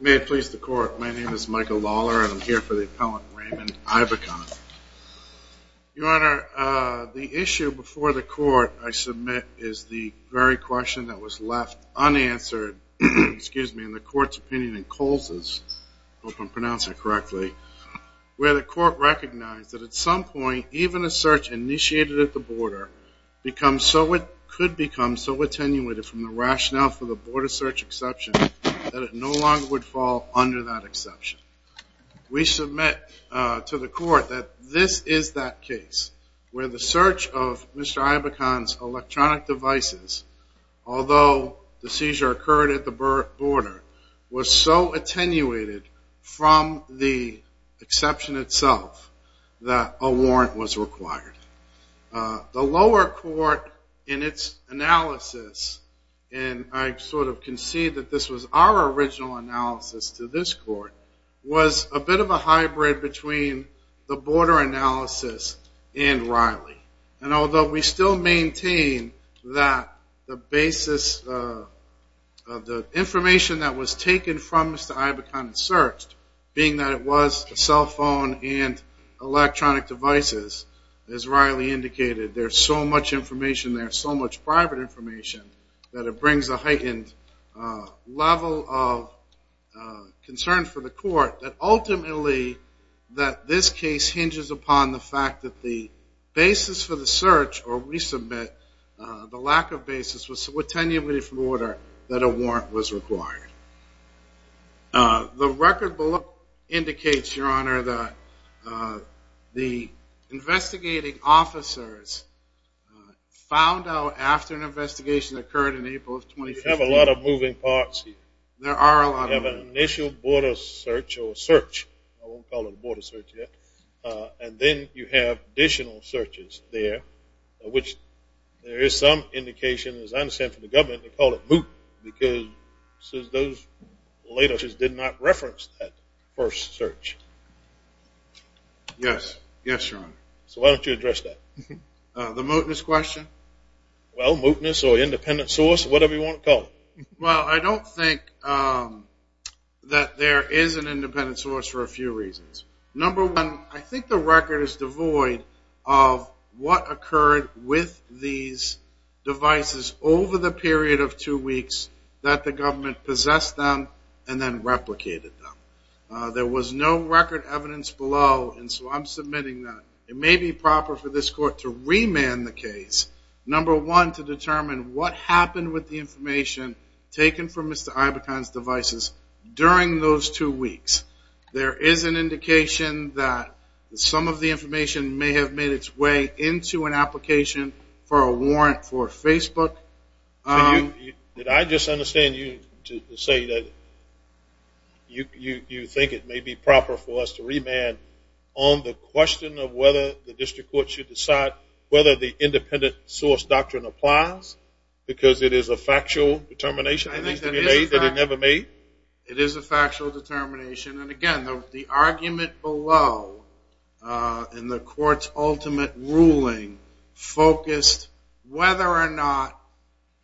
May it please the court my name is Michael Lawler and I'm here for the appellant Raymond Aigbekaen. Your honor the issue before the court I submit is the very question that was left unanswered excuse me in the court's opinion in Coles's hope I'm pronouncing it correctly where the court recognized that at some point even a search initiated at the border becomes so it could become so attenuated from the rationale for the border search exception that it no longer would fall under that exception. We submit to the court that this is that case where the search of Mr. Aigbekaen's electronic devices although the seizure occurred at the border was so attenuated from the exception itself that a warrant was required. The lower court in its analysis and I sort of concede that this was our original analysis to this court was a bit of a hybrid between the border analysis and Riley and although we still maintain that the basis of the information that was taken from Mr. Aigbekaen and searched being that it was a cell phone and electronic devices as Riley indicated there's so much information there so much private information that it brings a heightened level of concern for the court that ultimately that this case hinges upon the fact that the basis for the search or resubmit the lack of basis was so attenuated from the border that a warrant was required. The record of the search found out after an investigation occurred in April of 2015. You have a lot of moving parts. There are a lot of moving parts. You have an initial border search or search. I won't call it a border search yet. And then you have additional searches there which there is some indication as I understand from the government they call it MOOC because those latest did not reference that first search. Yes, yes your honor. So why don't you address that? The MOOCness question? Well MOOCness or independent source whatever you want to call it. Well I don't think that there is an independent source for a few reasons. Number one I think the record is devoid of what occurred with these devices over the period of two weeks that the government possessed them and then replicated them. There was no record evidence below and so I'm submitting that it may be proper for this court to remand the case. Number one to determine what happened with the information taken from Mr. Ibeton's devices during those two weeks. There is an indication that some of the information may have made its way into an application for a warrant for Facebook. Did I just understand you to say that you think it may be proper for us to remand on the question of whether the district court should decide whether the independent source doctrine applies because it is a factual determination that needs to be made that it never made? It is a factual determination and again, the argument below in the court's ultimate ruling focused whether or not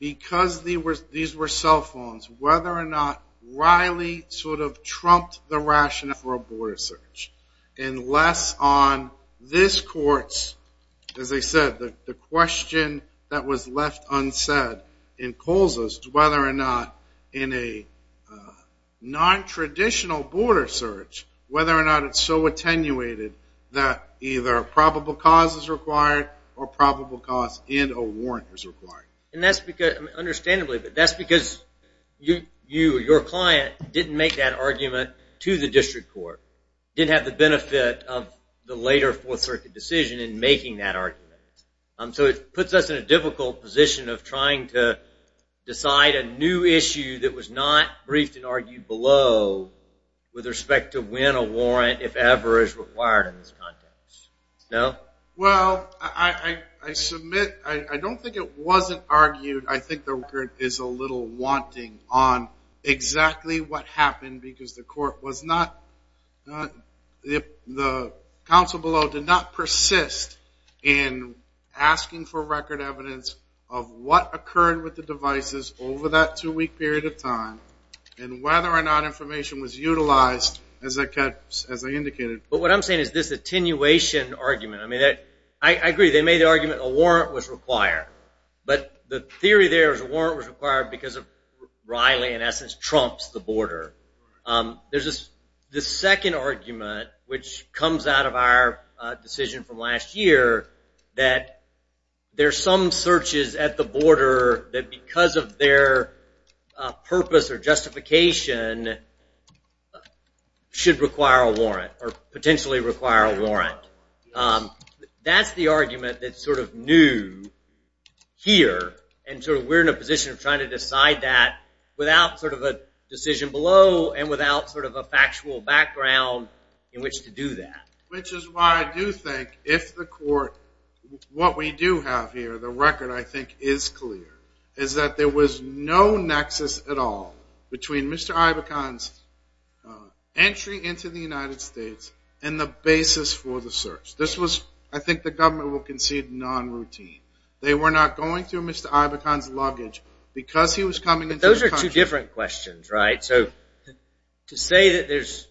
because these were cell phones, whether or not Riley sort of trumped the rationale for a border search unless on this court's, as I said, the question that was left unsaid in Colza's whether or not in a nontraditional border search whether or not it is so attenuated that either a probable cause is required or probable cause and a warrant is required. That is because your client didn't make that argument to the district court. Didn't have the benefit of the later fourth circuit decision in making that argument. So it puts us in a difficult position of trying to decide a new issue that was not briefed and argued below with respect to when a warrant, if ever, is required in this context. Well, I submit, I don't think it wasn't argued. I think the record is a little wanting on exactly what happened because the court was not, the counsel below did not persist in asking for record evidence of what occurred with the devices over that two week period of time and whether or not information was utilized as I indicated. But what I'm saying is this attenuation argument. I agree, they made the argument a warrant was required. But the theory there is a warrant was required because Riley in essence trumps the border. There is this second argument which comes out of our decision from last year that there are some searches at the border that because of their purpose or justification should require a warrant or potentially require a warrant. That's the argument that's sort of new here and so we're in a position of trying to decide that without sort of a decision below and without sort of a factual background in which to do that. Which is why I do think if the court, what we do have here, the record I think is clear, is that there was no nexus at all between Mr. Ibokan's entry into the United States and the basis for the search. This was, I think the government will concede, non-routine. They were not going through Mr. Ibokan's luggage because he was coming into the country. Those are two different questions, right? So to say that there's,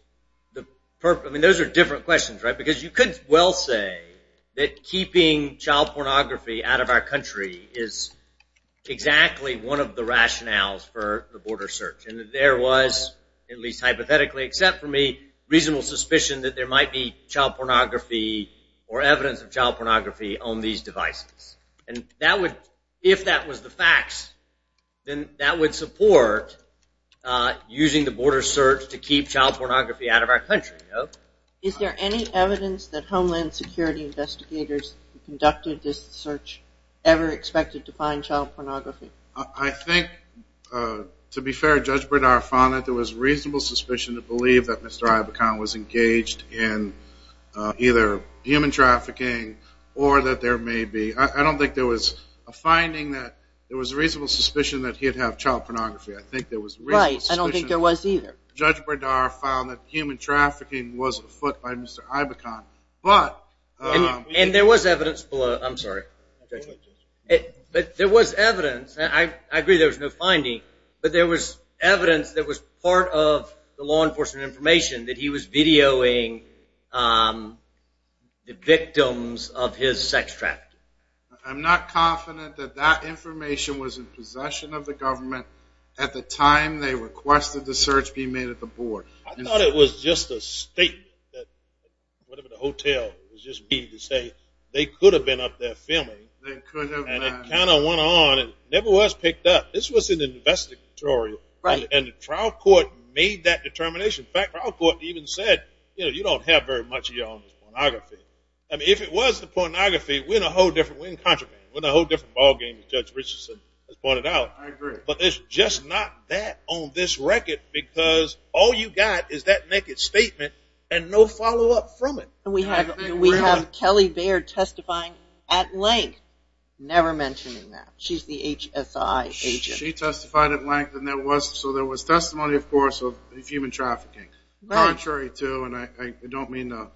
I mean those are different questions, right? Because you could well say that keeping child pornography out of our country is exactly one of the rationales for the border search. And that there was, at least hypothetically except for me, reasonable suspicion that there might be child pornography or evidence of child pornography on these devices. And that would, if that was the facts, then that would support using the border search to keep child pornography out of our country. Is there any evidence that Homeland Security investigators who conducted this search ever expected to find child pornography? I think, to be fair, Judge Bredar found that there was reasonable suspicion to believe that Mr. Ibokan was engaged in either human trafficking or that there may be, I don't think there was a finding that there was reasonable suspicion that he'd have child pornography. Right, I don't think there was either. Judge Bredar found that human trafficking was afoot by Mr. Ibokan. And there was evidence below, I'm sorry, but there was evidence, and I agree there was no finding, but there was evidence that was part of the law enforcement information that he was videoing the victims of his sex trafficking. I'm not confident that that information was in possession of the government at the time they requested the search be made at the border. I thought it was just a statement that whatever the hotel was just being to say they could have been up there filming. They could have. And it kind of went on and never was picked up. This was an investigatory. Right. And the trial court made that determination. In fact, the trial court even said, you know, you don't have very much of your own pornography. I mean, if it was the pornography, we're in a whole different, we're in contraband. We're in a whole different ballgame, as Judge Richardson has pointed out. I agree. But it's just not that on this record because all you got is that naked statement and no follow-up from it. And we have Kelly Baird testifying at length, never mentioning that. She's the HSI agent. She testified at length, and there was, so there was testimony, of course, of human trafficking. Right. Contrary to, and I don't mean the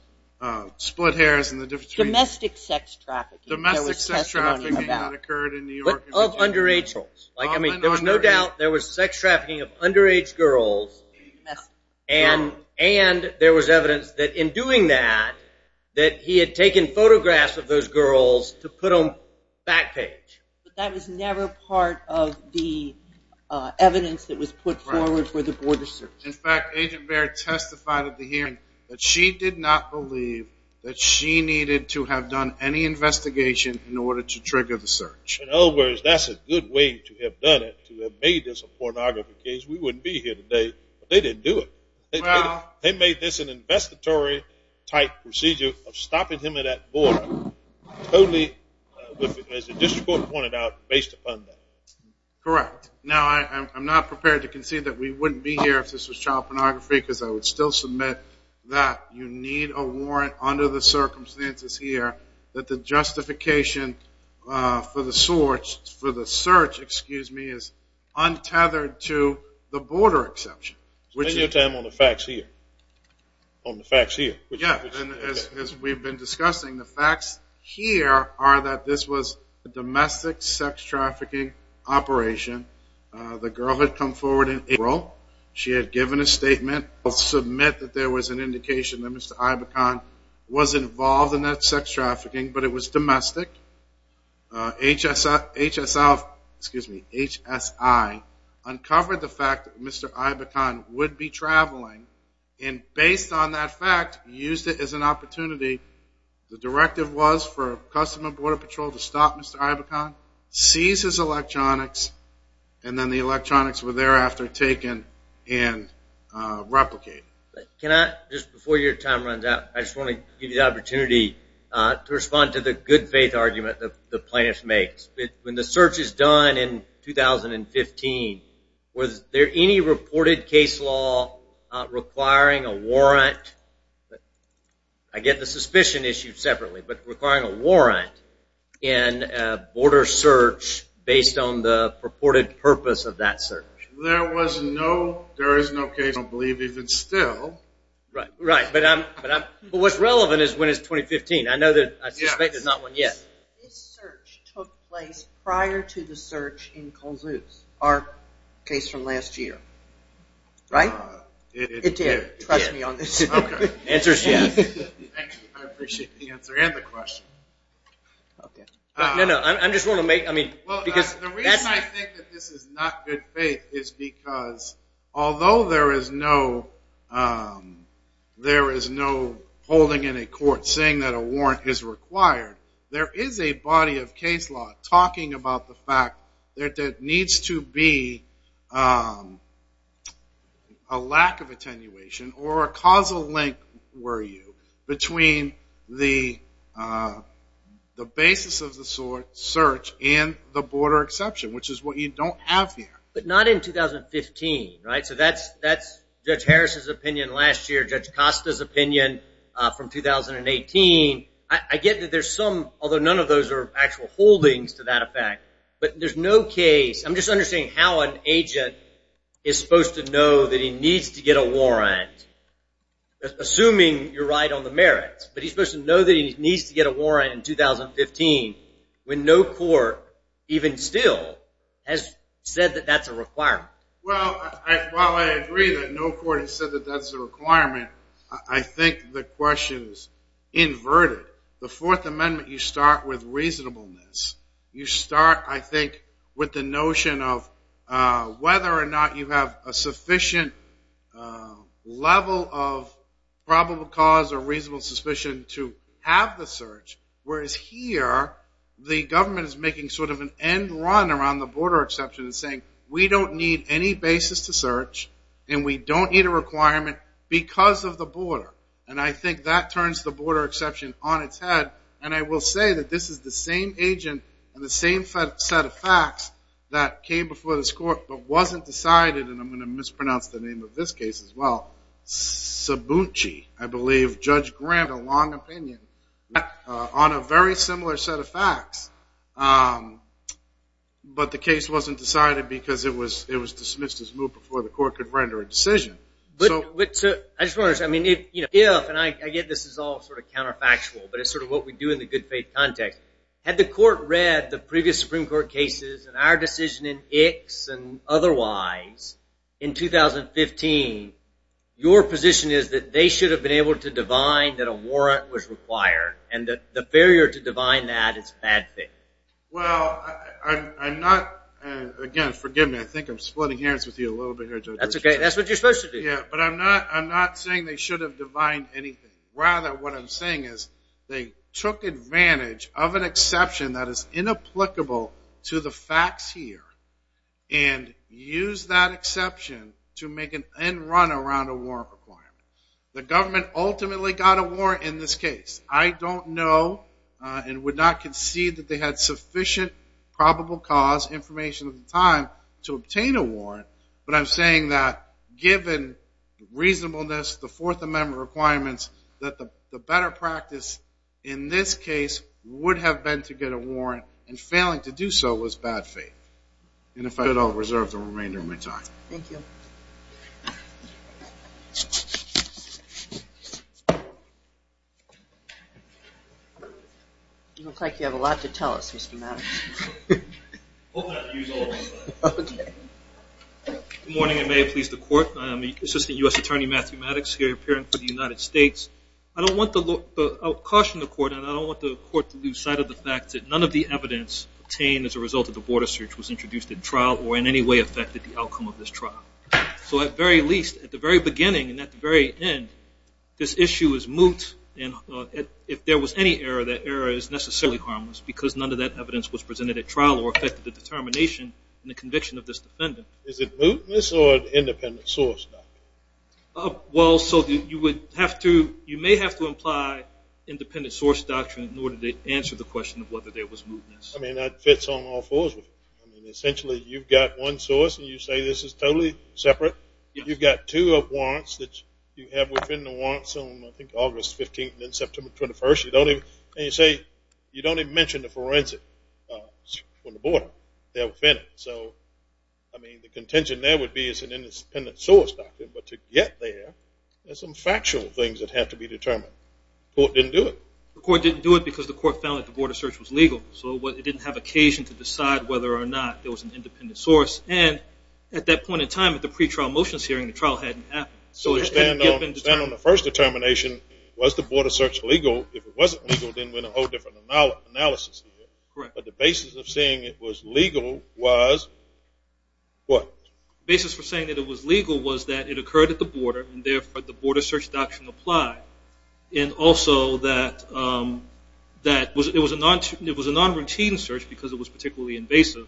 split hairs and the difference between. Domestic sex trafficking. Domestic sex trafficking that occurred in New York. Like, I mean, there was no doubt there was sex trafficking of underage girls. And there was evidence that in doing that, that he had taken photographs of those girls to put on back page. But that was never part of the evidence that was put forward for the border search. In fact, Agent Baird testified at the hearing that she did not believe that she needed to have done any investigation in order to trigger the search. In other words, that's a good way to have done it, to have made this a pornography case. We wouldn't be here today if they didn't do it. They made this an investitory-type procedure of stopping him at that border, totally, as the district court pointed out, based upon that. Correct. Now, I'm not prepared to concede that we wouldn't be here if this was child pornography because I would still submit that you need a warrant under the circumstances here that the justification for the search is untethered to the border exception. Spend your time on the facts here, on the facts here. Yeah, and as we've been discussing, the facts here are that this was a domestic sex trafficking operation. She had given a statement. I'll submit that there was an indication that Mr. Ibacon was involved in that sex trafficking, but it was domestic. HSI uncovered the fact that Mr. Ibacon would be traveling, and based on that fact, used it as an opportunity. The directive was for Customs and Border Patrol to stop Mr. Ibacon, seize his electronics, and then the electronics were thereafter taken and replicated. Can I, just before your time runs out, I just want to give you the opportunity to respond to the good-faith argument that the plaintiff makes. When the search is done in 2015, was there any reported case law requiring a warrant? I get the suspicion issue separately, but requiring a warrant in a border search based on the purported purpose of that search. There was no, there is no case, I believe, even still. Right, but what's relevant is when it's 2015. I know that I suspect there's not one yet. This search took place prior to the search in Colzuz, our case from last year, right? It did. Trust me on this. The answer is yes. I appreciate the answer and the question. No, no, I'm just going to make, I mean, because that's... The reason I think that this is not good faith is because although there is no holding in a court saying that a warrant is required, there is a body of case law talking about the fact that there needs to be a lack of attenuation or a causal link, were you, between the basis of the search and the border exception, which is what you don't have here. But not in 2015, right? So that's Judge Harris's opinion last year, Judge Costa's opinion from 2018. I get that there's some, although none of those are actual holdings to that effect, but there's no case. I'm just understanding how an agent is supposed to know that he needs to get a warrant, assuming you're right on the merits. But he's supposed to know that he needs to get a warrant in 2015 when no court, even still, has said that that's a requirement. Well, while I agree that no court has said that that's a requirement, I think the question is inverted. The Fourth Amendment, you start with reasonableness. You start, I think, with the notion of whether or not you have a sufficient level of probable cause or reasonable suspicion to have the search, whereas here, the government is making sort of an end run around the border exception and saying, we don't need any basis to search, and we don't need a requirement because of the border. And I think that turns the border exception on its head. And I will say that this is the same agent and the same set of facts that came before this court but wasn't decided, and I'm going to mispronounce the name of this case as well. Sabucci, I believe, Judge Grant, a long opinion on a very similar set of facts, but the case wasn't decided because it was dismissed as moved before the court could render a decision. I just want to understand. I mean, if, and I get this is all sort of counterfactual, but it's sort of what we do in the good faith context. Had the court read the previous Supreme Court cases and our decision in ICS and otherwise in 2015, your position is that they should have been able to divine that a warrant was required, and that the failure to divine that is bad faith. Well, I'm not, again, forgive me. I think I'm splitting hairs with you a little bit here, Judge. That's okay. That's what you're supposed to do. Yeah, but I'm not saying they should have divined anything. Rather, what I'm saying is they took advantage of an exception that is inapplicable to the facts here and used that exception to make an end run around a warrant requirement. The government ultimately got a warrant in this case. I don't know and would not concede that they had sufficient probable cause information at the time to obtain a warrant, but I'm saying that given reasonableness, the Fourth Amendment requirements, that the better practice in this case would have been to get a warrant, and failing to do so was bad faith. And if I could, I'll reserve the remainder of my time. Thank you. You look like you have a lot to tell us, Mr. Maddox. Good morning, and may it please the Court. I'm Assistant U.S. Attorney Matthew Maddox here, appearing for the United States. I'll caution the Court, and I don't want the Court to lose sight of the fact that none of the evidence obtained as a result of the border search was introduced in trial or in any way affected the outcome of this trial. So at the very least, at the very beginning and at the very end, this issue is moot, and if there was any error, that error is necessarily harmless because none of that evidence was presented at trial or affected the determination and the conviction of this defendant. Is it mootness or independent source doctrine? Well, so you may have to imply independent source doctrine in order to answer the question of whether there was mootness. I mean, that fits on all fours with it. I mean, essentially, you've got one source, and you say this is totally separate. You've got two warrants that you have within the warrants on, I think, August 15th and then September 21st, and you say you don't even mention the forensic on the border there within it. So, I mean, the contention there would be it's an independent source doctrine, but to get there, there's some factual things that have to be determined. The Court didn't do it. The Court didn't do it because the Court found that the border search was legal, so it didn't have occasion to decide whether or not there was an independent source, and at that point in time at the pretrial motions hearing, the trial hadn't happened. So to stand on the first determination, was the border search legal? If it wasn't legal, then we're in a whole different analysis here. But the basis of saying it was legal was what? The basis for saying that it was legal was that it occurred at the border, and therefore the border search doctrine applied, and also that it was a non-routine search because it was particularly invasive,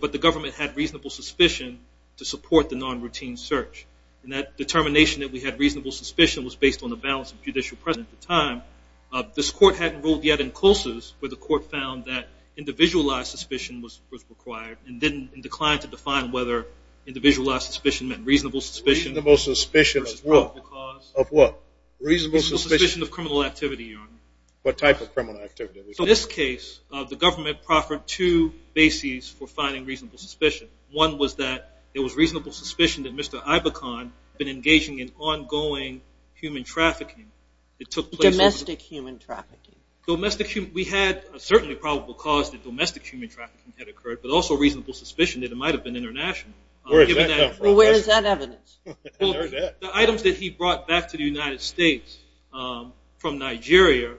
but the government had reasonable suspicion to support the non-routine search, and that determination that we had reasonable suspicion was based on the balance of judicial precedent at the time. This Court hadn't ruled yet in Colsus, but the Court found that individualized suspicion was required and declined to define whether individualized suspicion meant reasonable suspicion. Reasonable suspicion of what? Reasonable suspicion of criminal activity, Your Honor. What type of criminal activity? So in this case, the government proffered two bases for finding reasonable suspicion. One was that it was reasonable suspicion that Mr. Ibokan had been engaging in ongoing human trafficking. Domestic human trafficking. We had a certainly probable cause that domestic human trafficking had occurred, but also reasonable suspicion that it might have been international. Where does that come from? Where is that evidence? The items that he brought back to the United States from Nigeria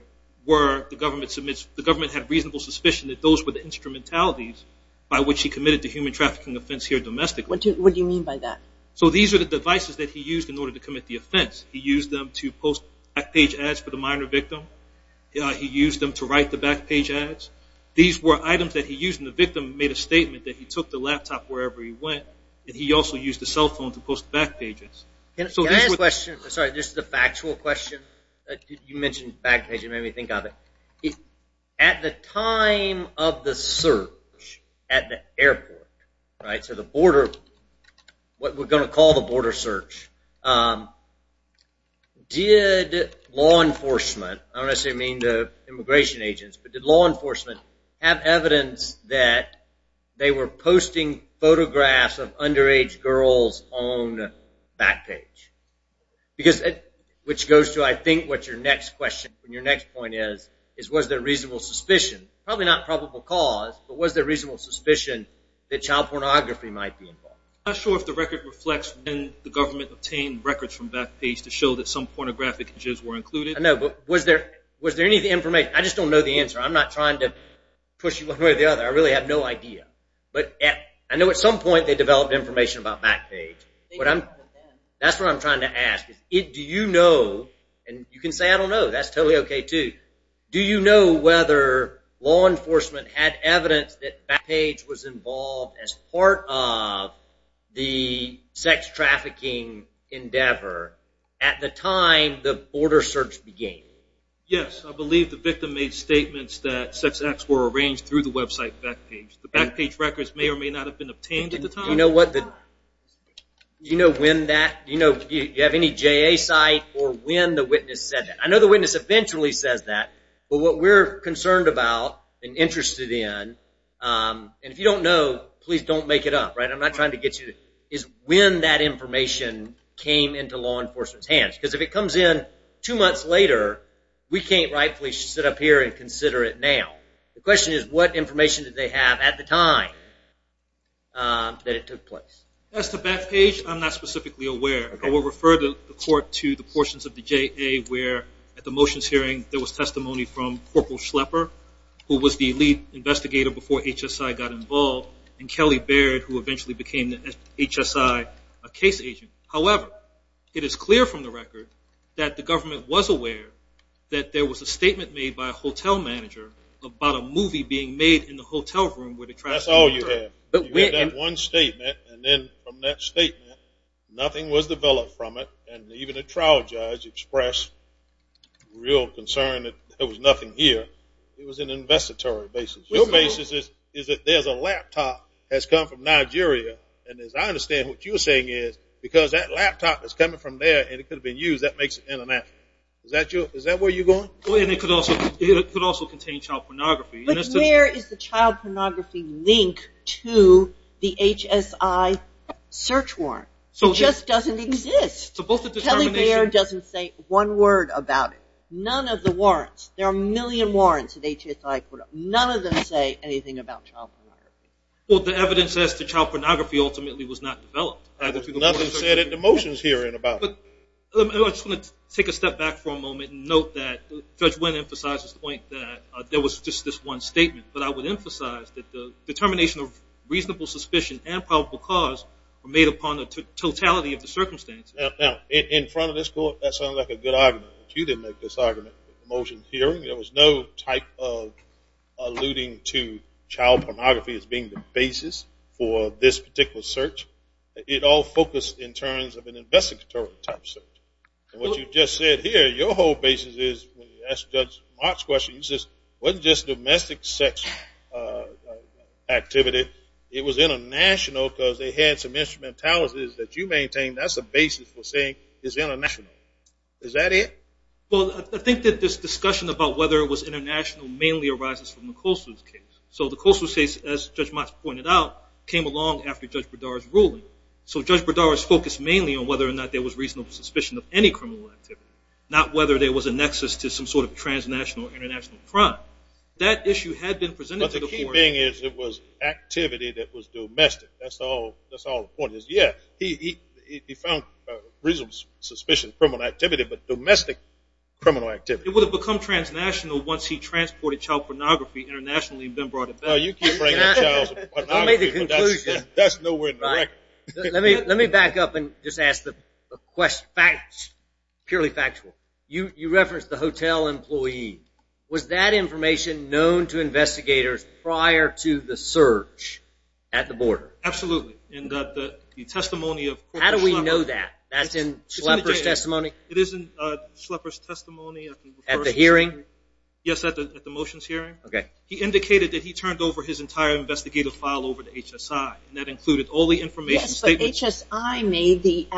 were the government had reasonable suspicion that those were the instrumentalities by which he committed the human trafficking offense here domestically. What do you mean by that? So these are the devices that he used in order to commit the offense. He used them to post back page ads for the minor victim. He used them to write the back page ads. These were items that he used and the victim made a statement that he took the laptop wherever he went and he also used the cell phone to post back pages. Can I ask a question? Sorry, this is a factual question. You mentioned back page, it made me think of it. At the time of the search at the airport, right, so the border, what we're going to call the border search, did law enforcement, I don't necessarily mean the immigration agents, but did law enforcement have evidence that they were posting photographs of underage girls on back page? Which goes to, I think, what your next question, your next point is, was there reasonable suspicion, probably not probable cause, but was there reasonable suspicion that child pornography might be involved? I'm not sure if the record reflects when the government obtained records from back page to show that some pornographic images were included. I know, but was there any information? I just don't know the answer. I'm not trying to push you one way or the other. I really have no idea. But I know at some point they developed information about back page. That's what I'm trying to ask. Do you know, and you can say I don't know, that's totally okay too, but do you know whether law enforcement had evidence that back page was involved as part of the sex trafficking endeavor at the time the border search began? Yes. I believe the victim made statements that sex acts were arranged through the website back page. The back page records may or may not have been obtained at the time. Do you know when that, do you have any JA site or when the witness said that? I know the witness eventually says that, but what we're concerned about and interested in, and if you don't know, please don't make it up. I'm not trying to get you to, is when that information came into law enforcement's hands. Because if it comes in two months later, we can't rightfully sit up here and consider it now. The question is what information did they have at the time that it took place? As to back page, I'm not specifically aware. I will refer the court to the portions of the JA where at the motions hearing, there was testimony from Corporal Schlepper, who was the lead investigator before HSI got involved, and Kelly Baird, who eventually became the HSI case agent. However, it is clear from the record that the government was aware that there was a statement made by a hotel manager about a movie being made in the hotel room. That's all you have. You get that one statement, and then from that statement, nothing was developed from it, and even a trial judge expressed real concern that there was nothing here. It was an investitory basis. Your basis is that there's a laptop that's come from Nigeria, and as I understand what you're saying is, because that laptop is coming from there and it could have been used, that makes it international. Is that where you're going? It could also contain child pornography. But where is the child pornography link to the HSI search warrant? It just doesn't exist. Kelly Baird doesn't say one word about it. None of the warrants. There are a million warrants that HSI put up. None of them say anything about child pornography. Well, the evidence says that child pornography ultimately was not developed. There's nothing said at the motions hearing about it. I just want to take a step back for a moment and note that Judge Wynn emphasized this point that there was just this one statement. But I would emphasize that the determination of reasonable suspicion and probable cause were made upon the totality of the circumstances. Now, in front of this court, that sounds like a good argument. But you didn't make this argument at the motions hearing. There was no type of alluding to child pornography as being the basis for this particular search. It all focused in terms of an investigatory type search. What you just said here, your whole basis is, when you asked Judge Mott's question, it wasn't just domestic sex activity. It was international because they had some instrumentalities that you maintained. That's the basis for saying it's international. Is that it? Well, I think that this discussion about whether it was international mainly arises from the Colson's case. So the Colson's case, as Judge Mott's pointed out, came along after Judge Berdara's ruling. So Judge Berdara's focus mainly on whether or not there was reasonable suspicion of any criminal activity, not whether there was a nexus to some sort of transnational or international crime. That issue had been presented to the court. But the key thing is it was activity that was domestic. That's all the point is. Yeah, he found reasonable suspicion, criminal activity, but domestic criminal activity. It would have become transnational once he transported child pornography internationally and then brought it back. No, you keep bringing up child pornography, but that's nowhere in the record. Let me back up and just ask the question, purely factual. You referenced the hotel employee. Was that information known to investigators prior to the search at the border? And the testimony of Corporal Schlepper. How do we know that? That's in Schlepper's testimony? It is in Schlepper's testimony. At the hearing? Yes, at the motions hearing. Okay. He indicated that he turned over his entire investigative file over to HSI, and that included all the information. Yes, but HSI made the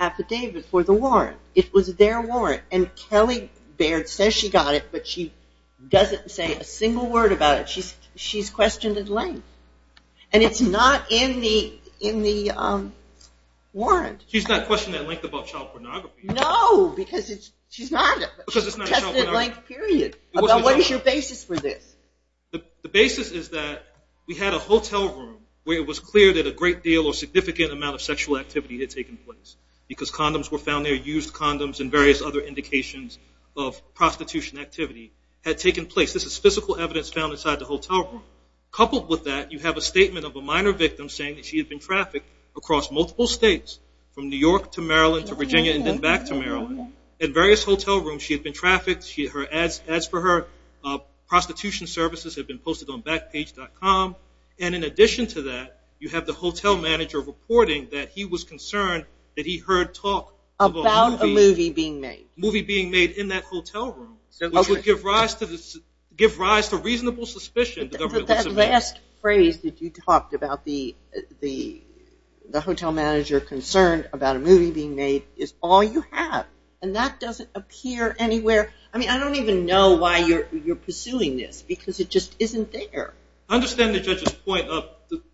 affidavit for the warrant. It was their warrant. And Kelly Baird says she got it, but she doesn't say a single word about it. She's questioned at length. And it's not in the warrant. She's not questioned at length about child pornography. No, because she's not. Because it's not child pornography. What is your basis for this? The basis is that we had a hotel room where it was clear that a great deal or significant amount of sexual activity had taken place because condoms were found there, used condoms, and various other indications of prostitution activity had taken place. This is physical evidence found inside the hotel room. Coupled with that, you have a statement of a minor victim saying that she had been trafficked across multiple states from New York to Maryland to Virginia and then back to Maryland. At various hotel rooms, she had been trafficked. As for her, prostitution services had been posted on Backpage.com. And in addition to that, you have the hotel manager reporting that he was concerned that he heard talk about a movie being made in that hotel room, which would give rise to reasonable suspicion. That last phrase that you talked about, the hotel manager concerned about a movie being made, is all you have. And that doesn't appear anywhere. I mean, I don't even know why you're pursuing this because it just isn't there. I understand the judge's point,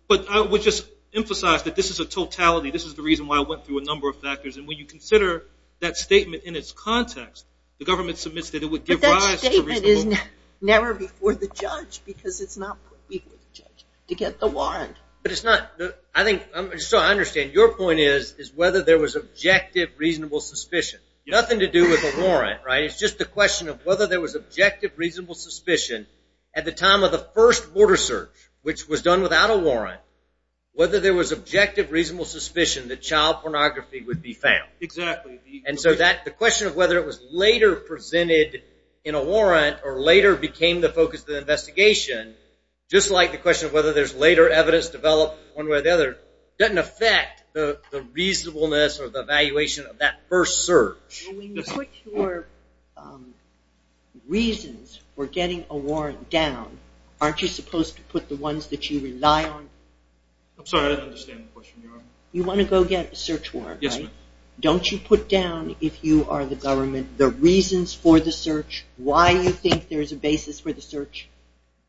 but I would just emphasize that this is a totality. This is the reason why I went through a number of factors. And when you consider that statement in its context, the government submits that it would give rise to reasonable ---- But that statement is never before the judge because it's not before the judge to get the warrant. But it's not. I think, so I understand your point is whether there was objective, reasonable suspicion. Nothing to do with a warrant, right? It's just a question of whether there was objective, reasonable suspicion at the time of the first border search, which was done without a warrant, whether there was objective, reasonable suspicion that child pornography would be found. Exactly. And so the question of whether it was later presented in a warrant or later became the focus of the investigation, just like the question of whether there's later evidence developed one way or the other doesn't affect the reasonableness or the evaluation of that first search. When you put your reasons for getting a warrant down, aren't you supposed to put the ones that you rely on? I'm sorry. I didn't understand the question. You want to go get a search warrant, right? Yes, ma'am. Don't you put down, if you are the government, the reasons for the search, why you think there's a basis for the search?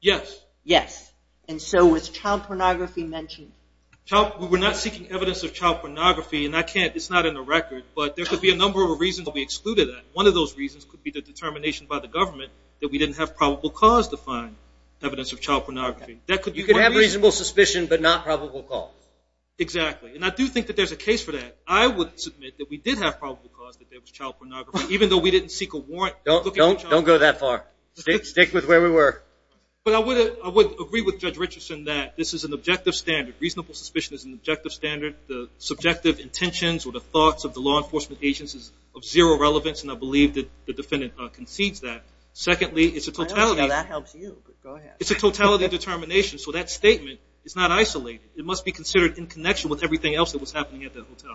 Yes. Yes. And so was child pornography mentioned? We're not seeking evidence of child pornography, and it's not in the record, but there could be a number of reasons that we excluded that. One of those reasons could be the determination by the government that we didn't have probable cause to find evidence of child pornography. You could have reasonable suspicion but not probable cause. Exactly. And I do think that there's a case for that. I would submit that we did have probable cause that there was child pornography, even though we didn't seek a warrant. Don't go that far. Stick with where we were. But I would agree with Judge Richardson that this is an objective standard. Reasonable suspicion is an objective standard. The subjective intentions or the thoughts of the law enforcement agents is of zero relevance, and I believe that the defendant concedes that. Secondly, it's a totality. That helps you. Go ahead. It's a totality determination, so that statement is not isolated. It must be considered in connection with everything else that was happening at the hotel. Thank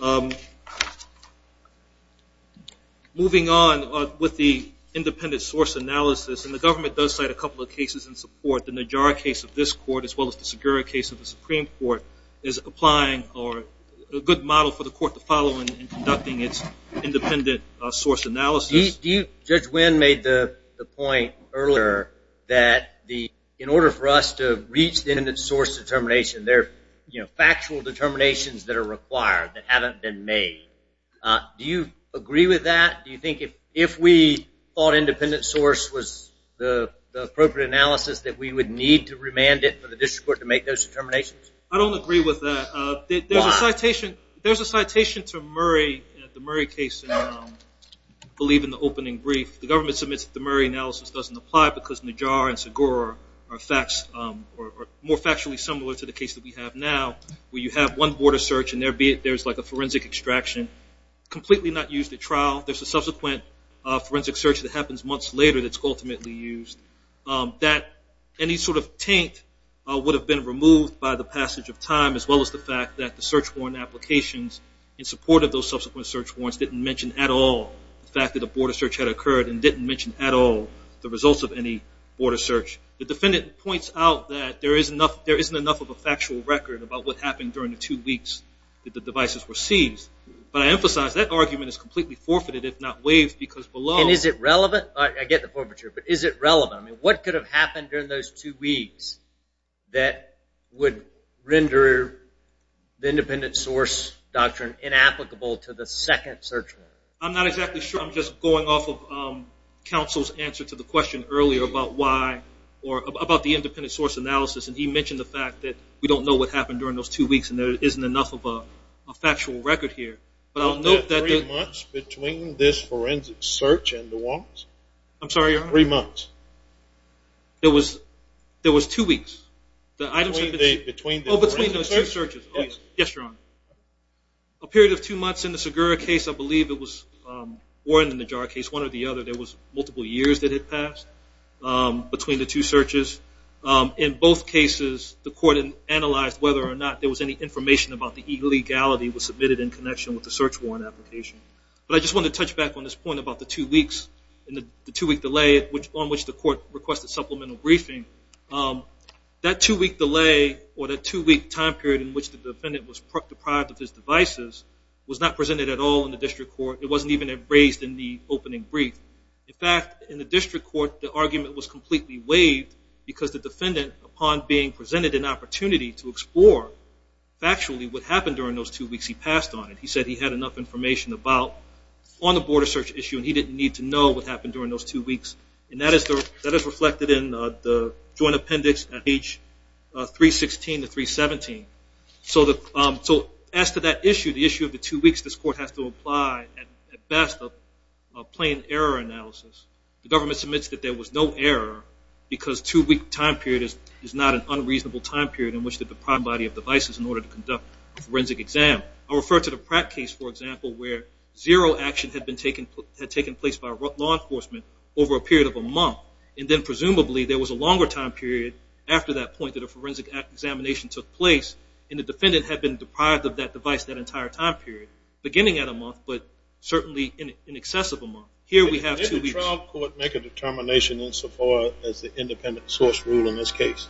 you, Your Honor. Moving on with the independent source analysis, and the government does cite a couple of cases in support. The Najjar case of this court as well as the Segura case of the Supreme Court is applying a good model for the court to follow in conducting its independent source analysis. Judge Wynn made the point earlier that in order for us to reach the independent source determination, there are factual determinations that are required that haven't been made. Do you agree with that? Do you think if we thought independent source was the appropriate analysis that we would need to remand it for the district court to make those determinations? I don't agree with that. There's a citation to the Murray case, I believe in the opening brief. The government submits that the Murray analysis doesn't apply because Najjar and Segura are more factually similar to the case that we have now where you have one border search and there's a forensic extraction, completely not used at trial. There's a subsequent forensic search that happens months later that's ultimately used. Any sort of taint would have been removed by the passage of time as well as the fact that the search warrant applications in support of those subsequent search warrants didn't mention at all the fact that a border search, the defendant points out that there isn't enough of a factual record about what happened during the two weeks that the devices were seized. But I emphasize that argument is completely forfeited if not waived because below. And is it relevant? I get the forfeiture, but is it relevant? What could have happened during those two weeks that would render the independent source doctrine inapplicable to the second search warrant? I'm not exactly sure. I'm just going off of counsel's answer to the question earlier about why or about the independent source analysis. And he mentioned the fact that we don't know what happened during those two weeks and there isn't enough of a factual record here. But I'll note that the – Was that three months between this forensic search and the warrants? I'm sorry, Your Honor? Three months. There was two weeks. Between the forensic searches? Yes, Your Honor. A period of two months in the Segura case. I believe it was warranted in the Jara case, one or the other. There was multiple years that had passed between the two searches. In both cases, the court analyzed whether or not there was any information about the illegality was submitted in connection with the search warrant application. But I just wanted to touch back on this point about the two weeks and the two-week delay on which the court requested supplemental briefing. That two-week delay or that two-week time period in which the defendant was deprived of his devices was not presented at all in the district court. It wasn't even raised in the opening brief. In fact, in the district court, the argument was completely waived because the defendant, upon being presented an opportunity to explore factually what happened during those two weeks, he passed on it. He said he had enough information on the border search issue and he didn't need to know what happened during those two weeks. And that is reflected in the joint appendix at page 316 to 317. So as to that issue, the issue of the two weeks, this court has to apply, at best, a plain error analysis. The government submits that there was no error because two-week time period is not an unreasonable time period in which the deprived body of devices in order to conduct a forensic exam. I'll refer to the Pratt case, for example, where zero action had taken place by law enforcement over a period of a month. And then presumably there was a longer time period after that point that a defendant had been deprived of that device that entire time period, beginning at a month but certainly in excess of a month. Here we have two weeks. Didn't the trial court make a determination insofar as the independent source rule in this case?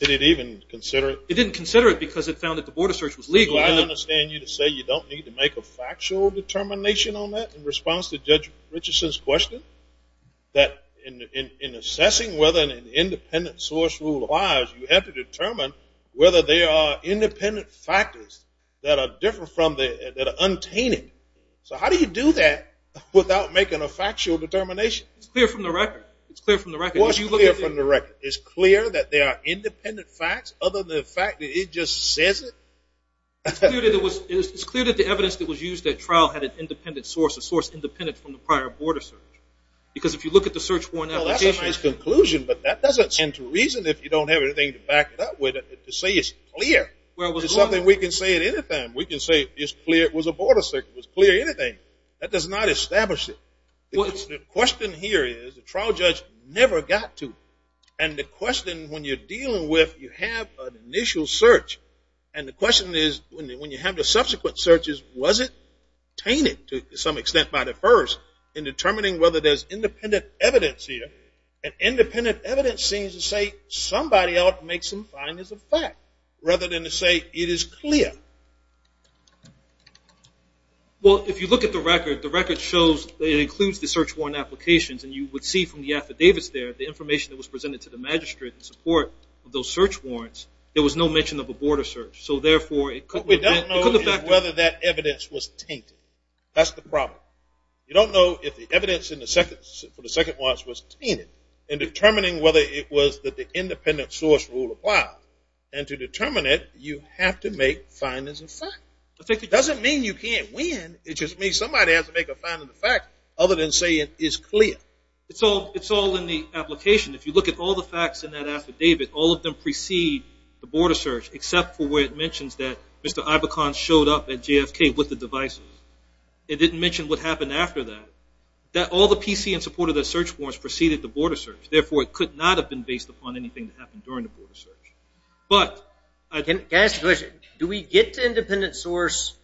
Did it even consider it? It didn't consider it because it found that the border search was legal. Do I understand you to say you don't need to make a factual determination on that in response to Judge Richardson's question, that in assessing whether an independent source rule applies, you have to determine whether there are independent factors that are untainted. So how do you do that without making a factual determination? It's clear from the record. It's clear from the record. It's clear that there are independent facts other than the fact that it just says it? It's clear that the evidence that was used at trial had an independent source, a source independent from the prior border search. Because if you look at the search warrant application. That's a nice conclusion, but that doesn't tend to reason if you don't have anything to back it up with to say it's clear. It's something we can say at any time. We can say it's clear it was a border search. It was clear anything. That does not establish it. The question here is the trial judge never got to. And the question when you're dealing with you have an initial search, and the question is when you have the subsequent searches, was it tainted to some extent by the first in determining whether there's independent evidence here? And independent evidence seems to say somebody else makes them find as a fact rather than to say it is clear. Well, if you look at the record, the record shows it includes the search warrant applications, and you would see from the affidavits there the information that was presented to the magistrate in support of those search warrants. There was no mention of a border search. So, therefore, it could be a factor. What we don't know is whether that evidence was tainted. That's the problem. You don't know if the evidence for the second watch was tainted in determining whether it was that the independent source rule applied. And to determine it, you have to make findings of fact. It doesn't mean you can't win. It just means somebody has to make a finding of fact other than say it is clear. It's all in the application. If you look at all the facts in that affidavit, all of them precede the border search except for where it mentions that Mr. Ibokan showed up at JFK with the devices. It didn't mention what happened after that. All the PC in support of the search warrants preceded the border search. Therefore, it could not have been based upon anything that happened during the border search. Can I ask a question? Do we get to independent source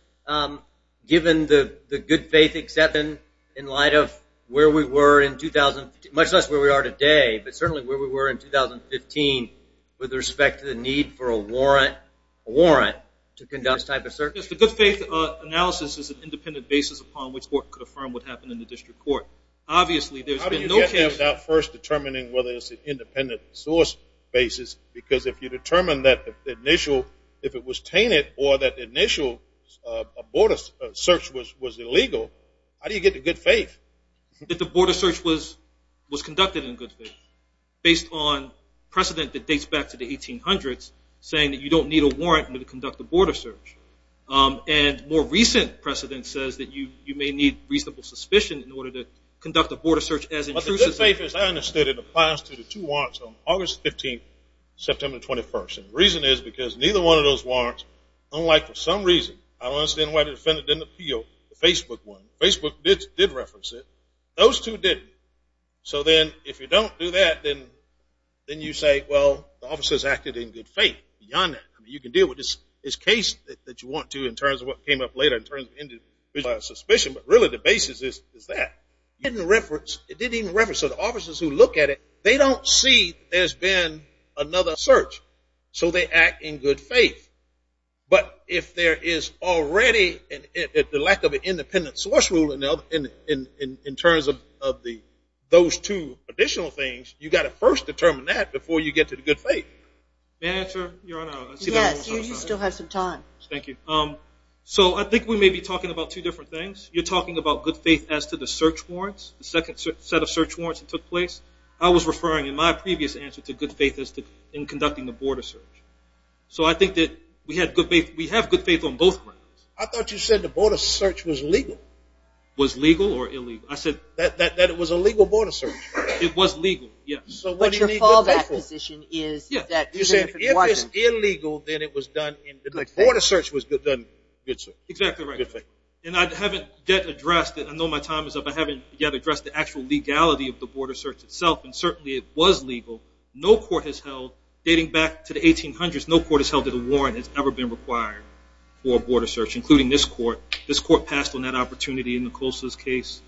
given the good faith acceptance in light of where we were in 2000, much less where we are today, but certainly where we were in 2015 with respect to the need for a warrant to conduct this type of search? Yes, the good faith analysis is an independent basis upon which the court could affirm what happened in the district court. Obviously, there's been no case. How do you get there without first determining whether it's an independent source basis? Because if you determine that the initial, if it was tainted or that the initial border search was illegal, how do you get the good faith? That the border search was conducted in good faith based on precedent that dates back to the 1800s saying that you don't need a warrant to conduct a border search. And more recent precedent says that you may need reasonable suspicion in order to conduct a border search as intrusive. The good faith, as I understood it, applies to the two warrants on August 15th, September 21st. And the reason is because neither one of those warrants, unlike for some reason, I don't understand why the defendant didn't appeal, the Facebook one. Facebook did reference it. Those two didn't. the officers acted in good faith. You can deal with this case that you want to in terms of what came up later in terms of individualized suspicion. But really the basis is that. It didn't even reference. So the officers who look at it, they don't see there's been another search. So they act in good faith. But if there is already the lack of an independent source rule in terms of those two additional things, you've got to first determine that before you get to the good faith. May I answer? Yes, you still have some time. Thank you. So I think we may be talking about two different things. You're talking about good faith as to the search warrants, the second set of search warrants that took place. I was referring in my previous answer to good faith as to conducting the border search. So I think that we have good faith on both grounds. I thought you said the border search was legal. Was legal or illegal? I said that it was a legal border search. It was legal, yes. So what your fallback position is. You said if it's illegal, then it was done in good faith. The border search was done in good faith. Exactly right. And I haven't yet addressed it. I know my time is up. I haven't yet addressed the actual legality of the border search itself, and certainly it was legal. No court has held, dating back to the 1800s, no court has held that a warrant has ever been required for a border search, including this court. This court passed on that opportunity in Nicole's case.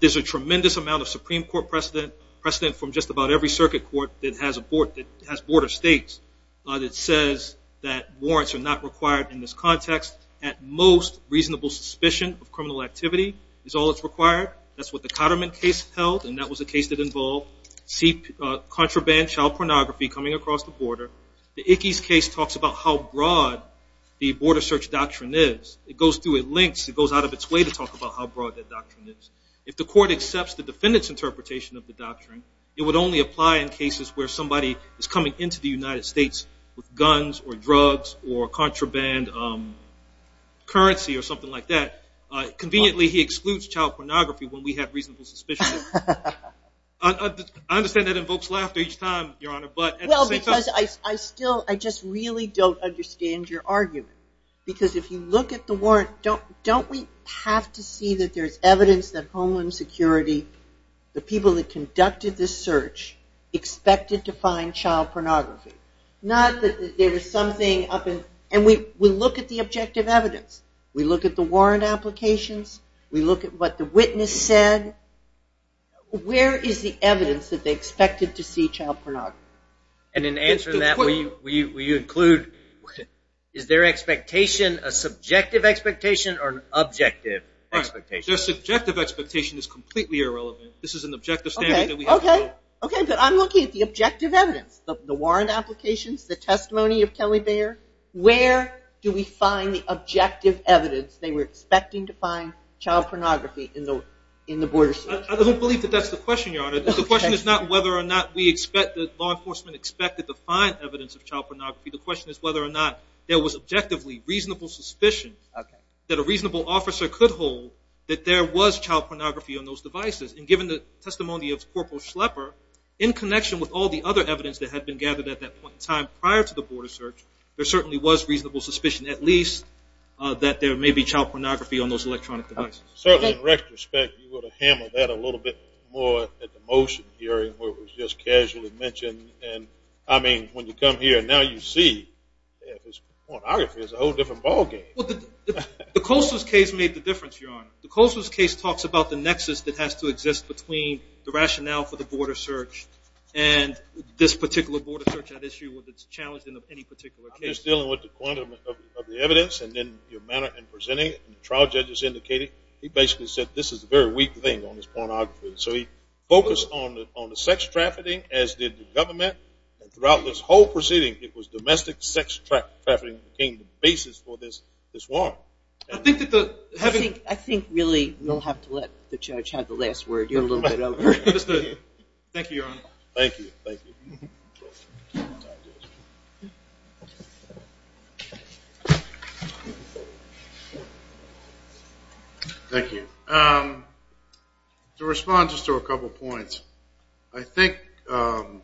There's a tremendous amount of Supreme Court precedent, precedent from just about every circuit court that has border states, that says that warrants are not required in this context. At most, reasonable suspicion of criminal activity is all that's required. That's what the Cotterman case held, and that was a case that involved contraband child pornography coming across the border. The Ickes case talks about how broad the border search doctrine is. It goes through at lengths. It goes out of its way to talk about how broad that doctrine is. If the court accepts the defendant's interpretation of the doctrine, it would only apply in cases where somebody is coming into the United States with guns or drugs or contraband currency or something like that. Conveniently, he excludes child pornography when we have reasonable suspicion. I understand that invokes laughter each time, Your Honor. Well, because I still just really don't understand your argument, because if you look at the warrant, don't we have to see that there's evidence that Homeland Security, the people that conducted this search, expected to find child pornography? Not that there was something up in – and we look at the objective evidence. We look at the warrant applications. We look at what the witness said. Where is the evidence that they expected to see child pornography? And in answering that, will you include is their expectation a subjective expectation or an objective expectation? Their subjective expectation is completely irrelevant. This is an objective standard that we have. Okay, but I'm looking at the objective evidence, the warrant applications, the testimony of Kelly Baer. Where do we find the objective evidence they were expecting to find child pornography in the border search? I don't believe that that's the question, Your Honor. The question is not whether or not we expect that law enforcement expected to find evidence of child pornography. The question is whether or not there was objectively reasonable suspicion that a reasonable officer could hold that there was child pornography on those devices. And given the testimony of Corporal Schlepper, in connection with all the other evidence that had been gathered at that point in time prior to the border search, there certainly was reasonable suspicion, at least, that there may be child pornography on those electronic devices. Certainly, in retrospect, you would have hammered that a little bit more at the motion hearing where it was just casually mentioned. And, I mean, when you come here, now you see that pornography is a whole different ballgame. Well, the Colson's case made the difference, Your Honor. The Colson's case talks about the nexus that has to exist between the rationale for the border search and this particular border search, that issue that's challenged in any particular case. I'm just dealing with the quantum of the evidence and then your manner in indicating he basically said this is a very weak thing on this pornography. So he focused on the sex trafficking, as did the government. And throughout this whole proceeding, it was domestic sex trafficking that became the basis for this one. I think that the having- I think, really, you'll have to let the judge have the last word. You're a little bit over. Thank you, Your Honor. Thank you. Thank you. Thank you. To respond just to a couple points, I think good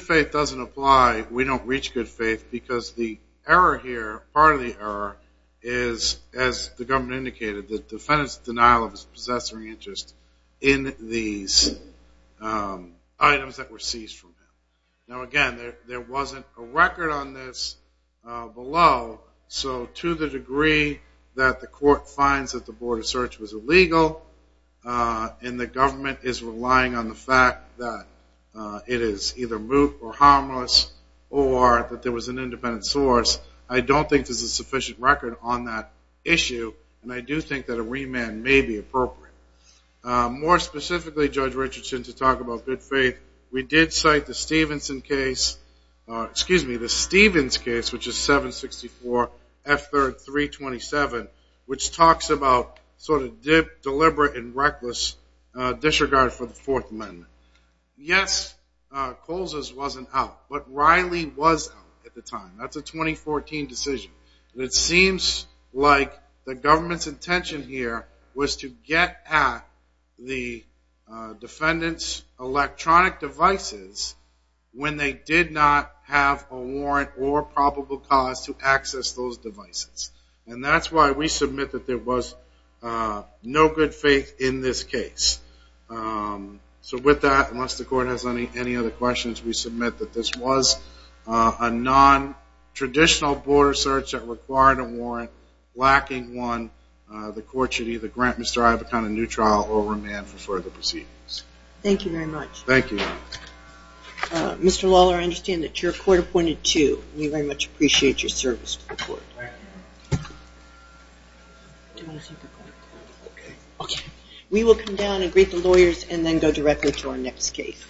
faith doesn't apply. We don't reach good faith because the error here, part of the error, is, as the government indicated, the defendant's denial of his possessory interest in these items that were seized from him. Now, again, there wasn't a record on this below. So to the degree that the court finds that the border search was illegal and the government is relying on the fact that it is either moot or harmless or that there was an independent source, I don't think there's a sufficient record on that issue. And I do think that a remand may be appropriate. More specifically, Judge Richardson, to talk about good faith, we did cite the Stephenson case-excuse me, the Stevens case, which is 764F3-327, which talks about sort of deliberate and reckless disregard for the Fourth Amendment. Yes, Colza's wasn't out, but Riley was out at the time. That's a 2014 decision. It seems like the government's intention here was to get at the defendant's electronic devices when they did not have a warrant or probable cause to access those devices. And that's why we submit that there was no good faith in this case. So with that, unless the court has any other questions, we submit that this was a nontraditional border search that required a warrant. Lacking one, the court should either grant Mr. Ivocan a new trial or remand for further proceedings. Thank you very much. Thank you. Mr. Lawler, I understand that you're court-appointed too. We very much appreciate your service to the court. Okay. We will come down and greet the lawyers and then go directly to our next case.